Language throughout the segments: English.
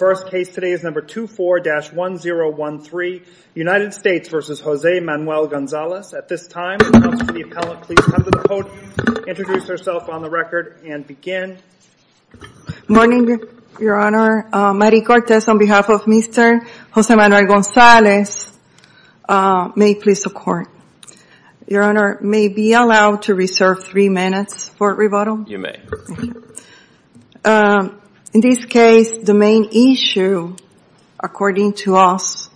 first case today is number 24-1013 United States versus Jose Manuel Gonzalez. At this time, would the appellant please come to the podium, introduce herself on the record, and begin. Good morning, Your Honor. Mary Cortez on behalf of Mr. Jose Manuel Gonzalez. May it please the Court. Your Honor, may it be allowed to reserve three minutes for rebuttal? You may. In this case, the main issue, according to us,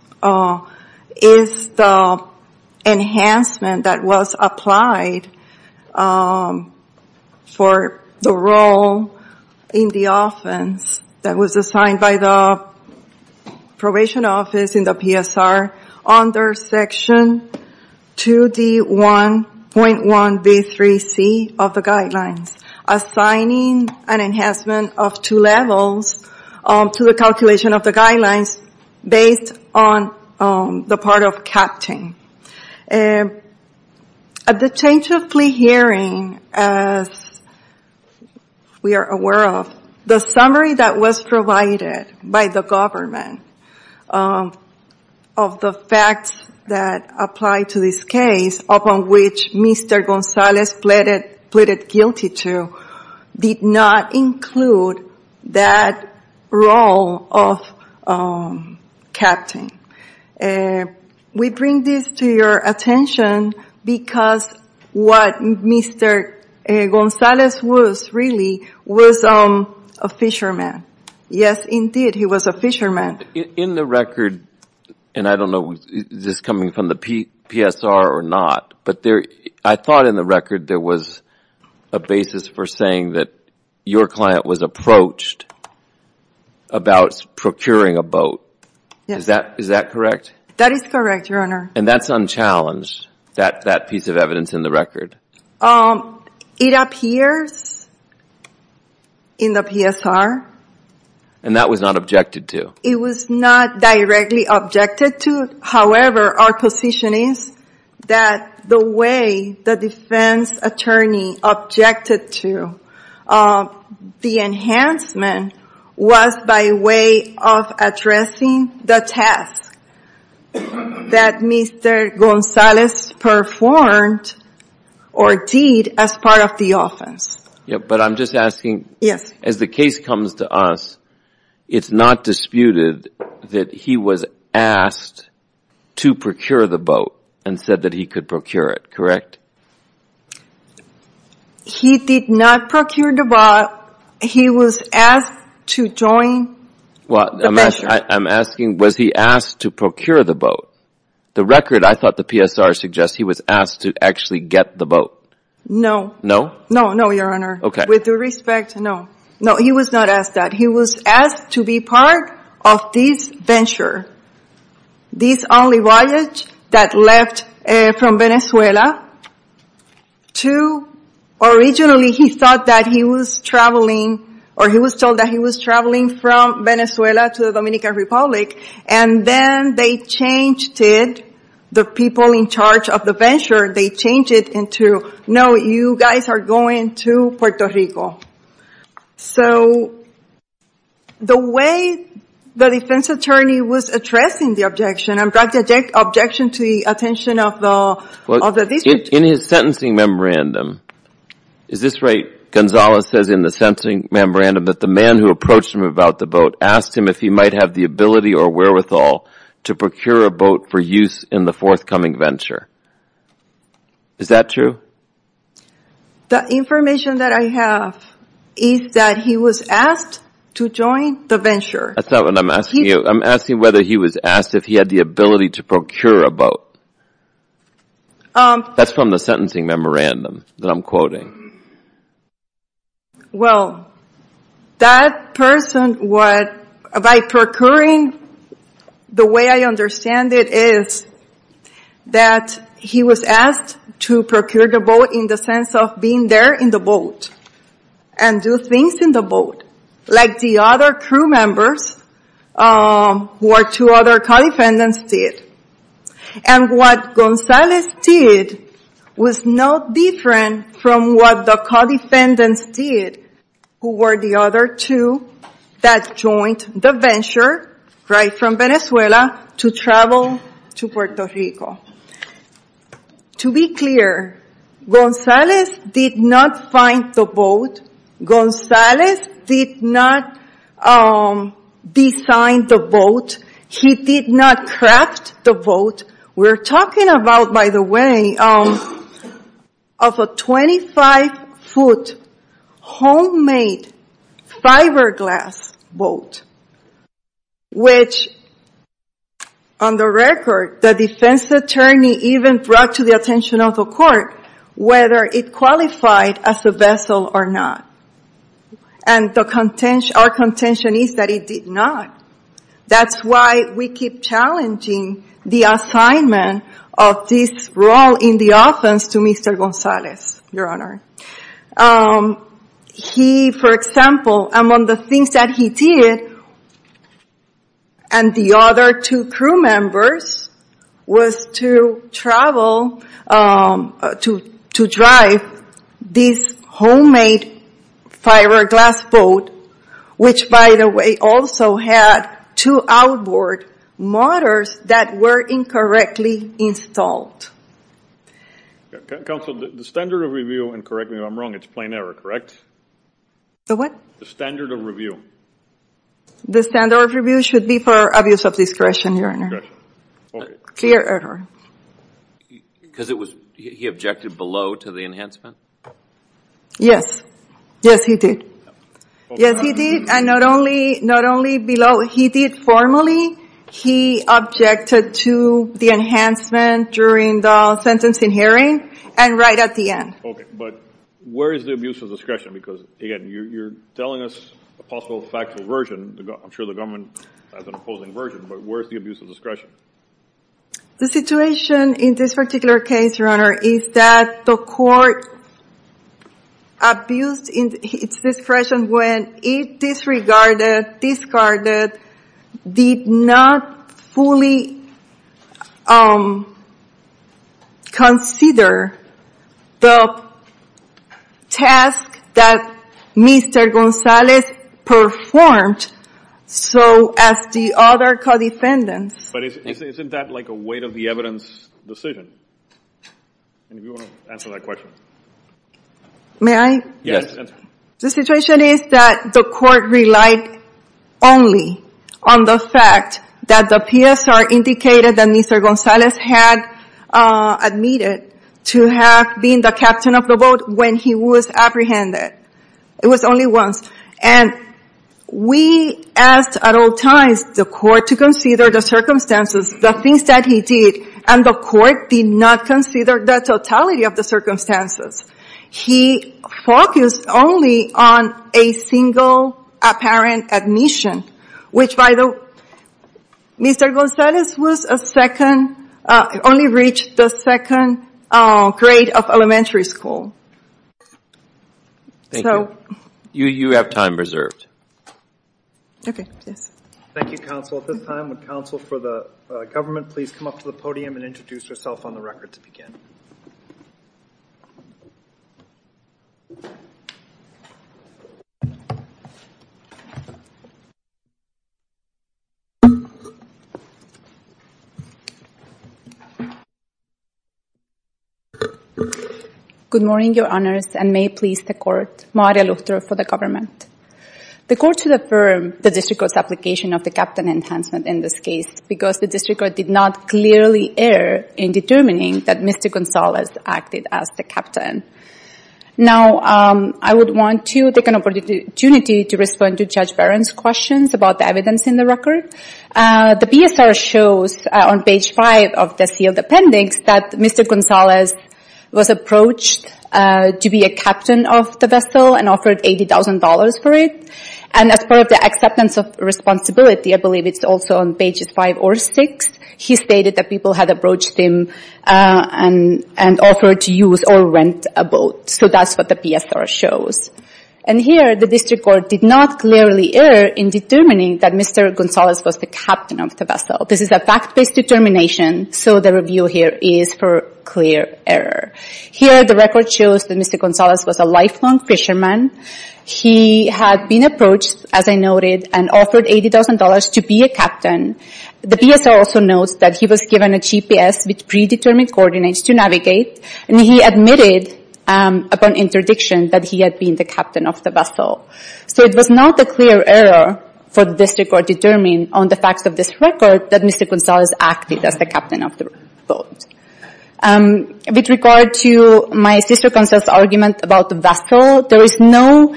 is the enhancement that was applied for the role in the offense that was assigned by the probation office in the PSR under Section 2D1.1B3C of the Guidelines, assigning an enhancement of two levels to the calculation of the Guidelines based on the part of captain. At the change of plea hearing, as we are aware of, the summary that was provided by the government of the facts that apply to this case, upon which Mr. Gonzalez pleaded guilty to, did not include that role of captain. We bring this to your attention because what Mr. Gonzalez was, really, was a fisherman. Yes, indeed, he was a fisherman. In the record, and I don't know if this is coming from the PSR or not, but I thought in the record there was a basis for saying that your client was approached about procuring a boat. Is that correct? That is correct, Your Honor. And that's unchallenged, that piece of evidence in the record? It appears in the PSR. And that was not objected to? It was not directly objected to. However, our position is that the way the defense attorney objected to the enhancement was by way of addressing the task that Mr. Gonzalez performed or did as part of the offense. But I'm just asking, as the case comes to us, it's not disputed that he was asked to procure the boat and said that he could procure it, correct? He did not procure the boat. He was asked to join the venture. I'm asking, was he asked to procure the boat? The record, I thought the PSR suggests he was asked to actually get the boat. No. No? No, no, Your Honor. Okay. With due respect, no. No, he was not asked that. He was asked to be part of this venture, this only voyage that left from Venezuela to, originally he thought that he was traveling or he was told that he was traveling from Venezuela to the Dominican Republic. And then they changed it, the people in charge of the venture, they changed it into, no, you guys are going to Puerto Rico. So, the way the defense attorney was addressing the objection, and brought the objection to the attention of the district. In his sentencing memorandum, is this right, Gonzalez says in the sentencing memorandum that the man who approached him about the boat asked him if he might have the ability or wherewithal to procure a boat for use in the forthcoming venture. Is that true? The information that I have is that he was asked to join the venture. That's not what I'm asking you. I'm asking whether he was asked if he had the ability to procure a boat. That's from the sentencing memorandum that I'm quoting. Well, that person, by procuring, the way I understand it is that he was asked to procure the boat in the sense of being there in the boat, and do things in the boat, like the other crew members, or two other co-defendants did. And what Gonzalez did was no different from what the co-defendants did, who were the other two that joined the venture, right from Venezuela, to travel to Puerto Rico. To be clear, Gonzalez did not find the boat. Gonzalez did not design the boat. He did not craft the boat. We're talking about, by the way, of a 25-foot homemade fiberglass boat, which on the record, the defense attorney even brought to the attention of the court whether it qualified as a vessel or not. And our contention is that it did not. That's why we keep challenging the assignment of this role in the offense to Mr. Gonzalez, Your Honor. He, for example, among the things that he did, and the other two crew members, was to travel, to drive this homemade fiberglass boat, which, by the way, also had two outboard motors that were incorrectly installed. Counsel, the standard of review, and correct me if I'm wrong, it's plenary, correct? The what? The standard of review. The standard of review should be for abuse of discretion, Your Honor. Clear error. Because it was, he objected below to the enhancement? Yes. Yes, he did. Yes, he did. And not only below, he did formally, he objected to the enhancement during the sentencing hearing, and right at the end. Okay, but where is the abuse of discretion? Because, again, you're telling us a possible factual version, I'm sure the government has an opposing version, but where is the abuse of discretion? The situation in this particular case, Your Honor, is that the court abused its discretion when it disregarded, discarded, did not fully consider the task that Mr. Gonzalez performed, so as the other co-defendants. But isn't that like a weight of the evidence decision? And if you want to answer that question. May I? Yes, answer. The situation is that the court relied only on the fact that the PSR indicated that Mr. Gonzalez had admitted to have been the captain of the boat when he was apprehended. It was only once. And we asked at all times the court to consider the circumstances, the things that he did, and the court did not consider the totality of the circumstances. He focused only on a single apparent admission, which, by the way, Mr. Gonzalez only reached the second grade of elementary school. Thank you. You have time reserved. Okay, yes. Thank you, counsel. At this time, would counsel for the government please come up to the podium and introduce herself on the record to begin. Good morning, your honors, and may it please the court, Maria Luhter for the government. The court should affirm the district court's application of the captain enhancement in this case because the district court did not clearly err in determining that Mr. Gonzalez acted as the captain. Now, I would want to take an opportunity to respond to Judge Barron's questions about the evidence in the record. The PSR shows on page 5 of the sealed appendix that Mr. Gonzalez was approached to be a captain of the vessel and offered $80,000 for it. And as part of the acceptance of responsibility, I believe it's also on pages 5 or 6, he stated that people had approached him and offered to use or rent a boat. So that's what the PSR shows. And here, the district court did not clearly err in determining that Mr. Gonzalez was the captain of the vessel. This is a fact-based determination, so the review here is for clear error. Here, the record shows that Mr. Gonzalez was a lifelong fisherman. He had been approached, as I noted, and offered $80,000 to be a captain. The PSR also notes that he was given a GPS with predetermined coordinates to navigate, and he admitted upon interdiction that he had been the captain of the vessel. So it was not a clear error for the district court to determine on the facts of this record that Mr. Gonzalez acted as the captain of the boat. With regard to my sister-counsel's argument about the vessel, there is no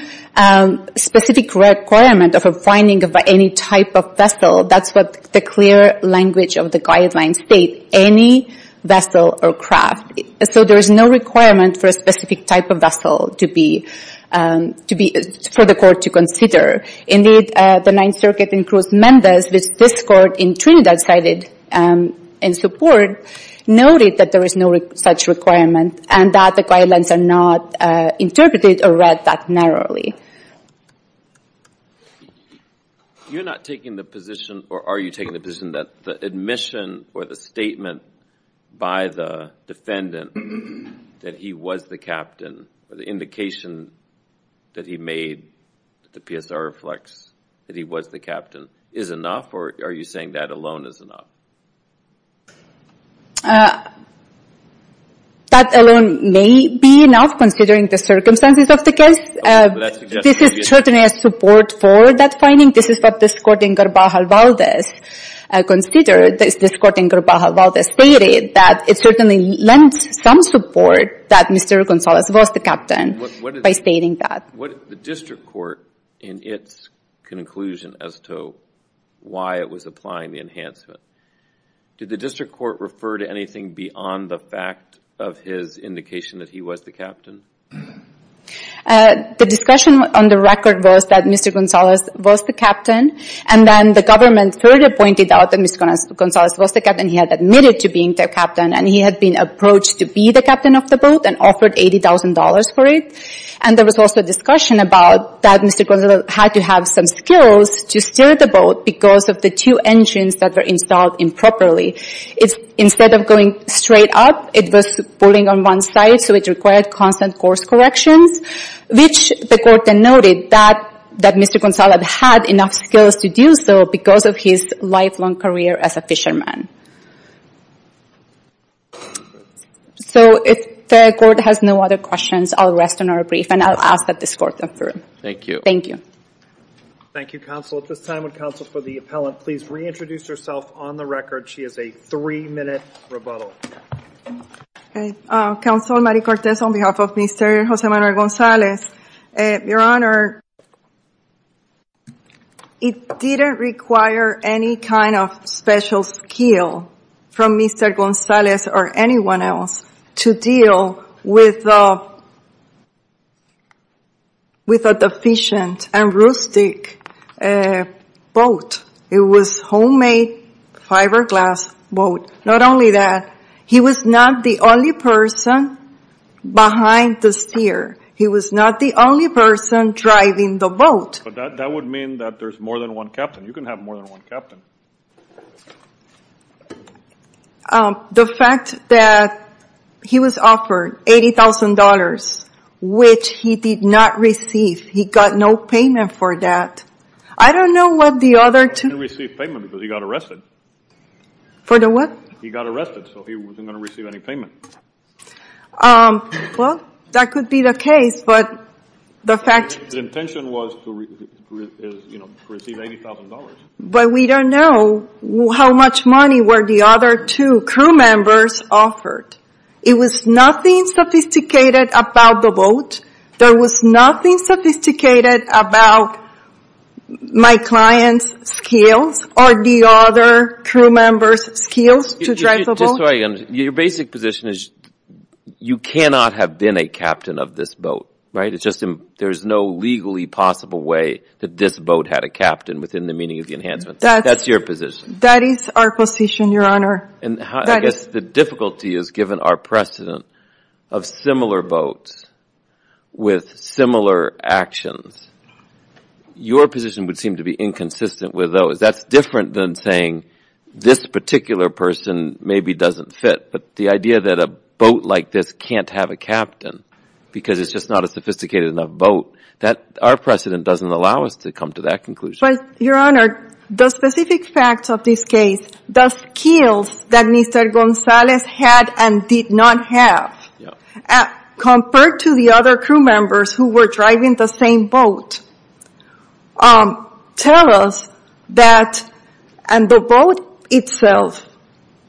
specific requirement of a finding of any type of vessel. That's what the clear language of the guidelines state, any vessel or craft. So there is no requirement for a specific type of vessel for the court to consider. Indeed, the Ninth Circuit in Cruz Mendez, which this court in Trinidad cited in support, noted that there is no such requirement and that the guidelines are not interpreted or read that narrowly. You're not taking the position, or are you taking the position, that the admission or the statement by the defendant that he was the captain, or the indication that he made that the PSR reflects that he was the captain, is enough, or are you saying that alone is enough? That alone may be enough, considering the circumstances of the case. This is certainly a support for that finding. This is what this court in Garbajal Valdez considered. This court in Garbajal Valdez stated that it certainly lent some support that Mr. Gonzalez was the captain by stating that. The district court, in its conclusion as to why it was applying the enhancement, did the district court refer to anything beyond the fact of his indication that he was the captain? The discussion on the record was that Mr. Gonzalez was the captain, and then the government further pointed out that Mr. Gonzalez was the captain. He had admitted to being the captain, and he had been approached to be the captain of the boat and offered $80,000 for it. There was also a discussion about that Mr. Gonzalez had to have some skills to steer the boat because of the two engines that were installed improperly. Instead of going straight up, it was pulling on one side, so it required constant course corrections, which the court denoted that Mr. Gonzalez had enough skills to do so because of his lifelong career as a fisherman. So if the court has no other questions, I'll rest on our brief, and I'll ask that this court confirm. Thank you. Thank you. Thank you, counsel. At this time, would counsel for the appellant please reintroduce herself on the record? She has a three-minute rebuttal. Counsel, Mary Cortez, on behalf of Mr. Jose Manuel Gonzalez. Your Honor, it didn't require any kind of special skill from Mr. Gonzalez or anyone else to deal with a deficient and rustic boat. It was a homemade fiberglass boat. Not only that, he was not the only person behind the steer. He was not the only person driving the boat. But that would mean that there's more than one captain. You can have more than one captain. The fact that he was offered $80,000, which he did not receive. He got no payment for that. I don't know what the other two. He didn't receive payment because he got arrested. For the what? He got arrested, so he wasn't going to receive any payment. Well, that could be the case, but the fact... His intention was to receive $80,000. But we don't know how much money were the other two crew members offered. It was nothing sophisticated about the boat. There was nothing sophisticated about my client's skills or the other crew members' skills to drive the boat. Your basic position is you cannot have been a captain of this boat, right? There's no legally possible way that this boat had a captain within the meaning of the enhancement. That's your position. That is our position, Your Honor. I guess the difficulty is given our precedent of similar boats with similar actions, your position would seem to be inconsistent with those. That's different than saying this particular person maybe doesn't fit. But the idea that a boat like this can't have a captain because it's just not a sophisticated enough boat, our precedent doesn't allow us to come to that conclusion. Your Honor, the specific facts of this case, the skills that Mr. Gonzalez had and did not have, compared to the other crew members who were driving the same boat, tell us that the boat itself,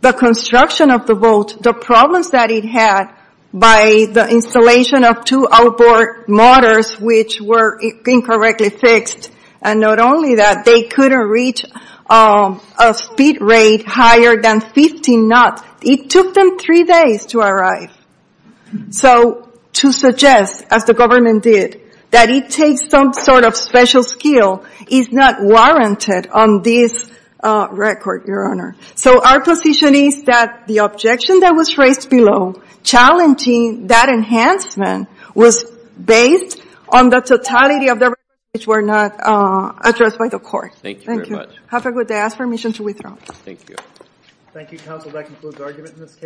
the construction of the boat, the problems that it had by the installation of two outboard motors which were incorrectly fixed, and not only that, they couldn't reach a speed rate higher than 15 knots. It took them three days to arrive. So to suggest, as the government did, that it takes some sort of special skill, is not warranted on this record, Your Honor. So our position is that the objection that was raised below, challenging that enhancement was based on the totality of the problems which were not addressed by the court. Thank you very much. Have a good day. I ask permission to withdraw. Thank you. Thank you, counsel. That concludes argument in this case.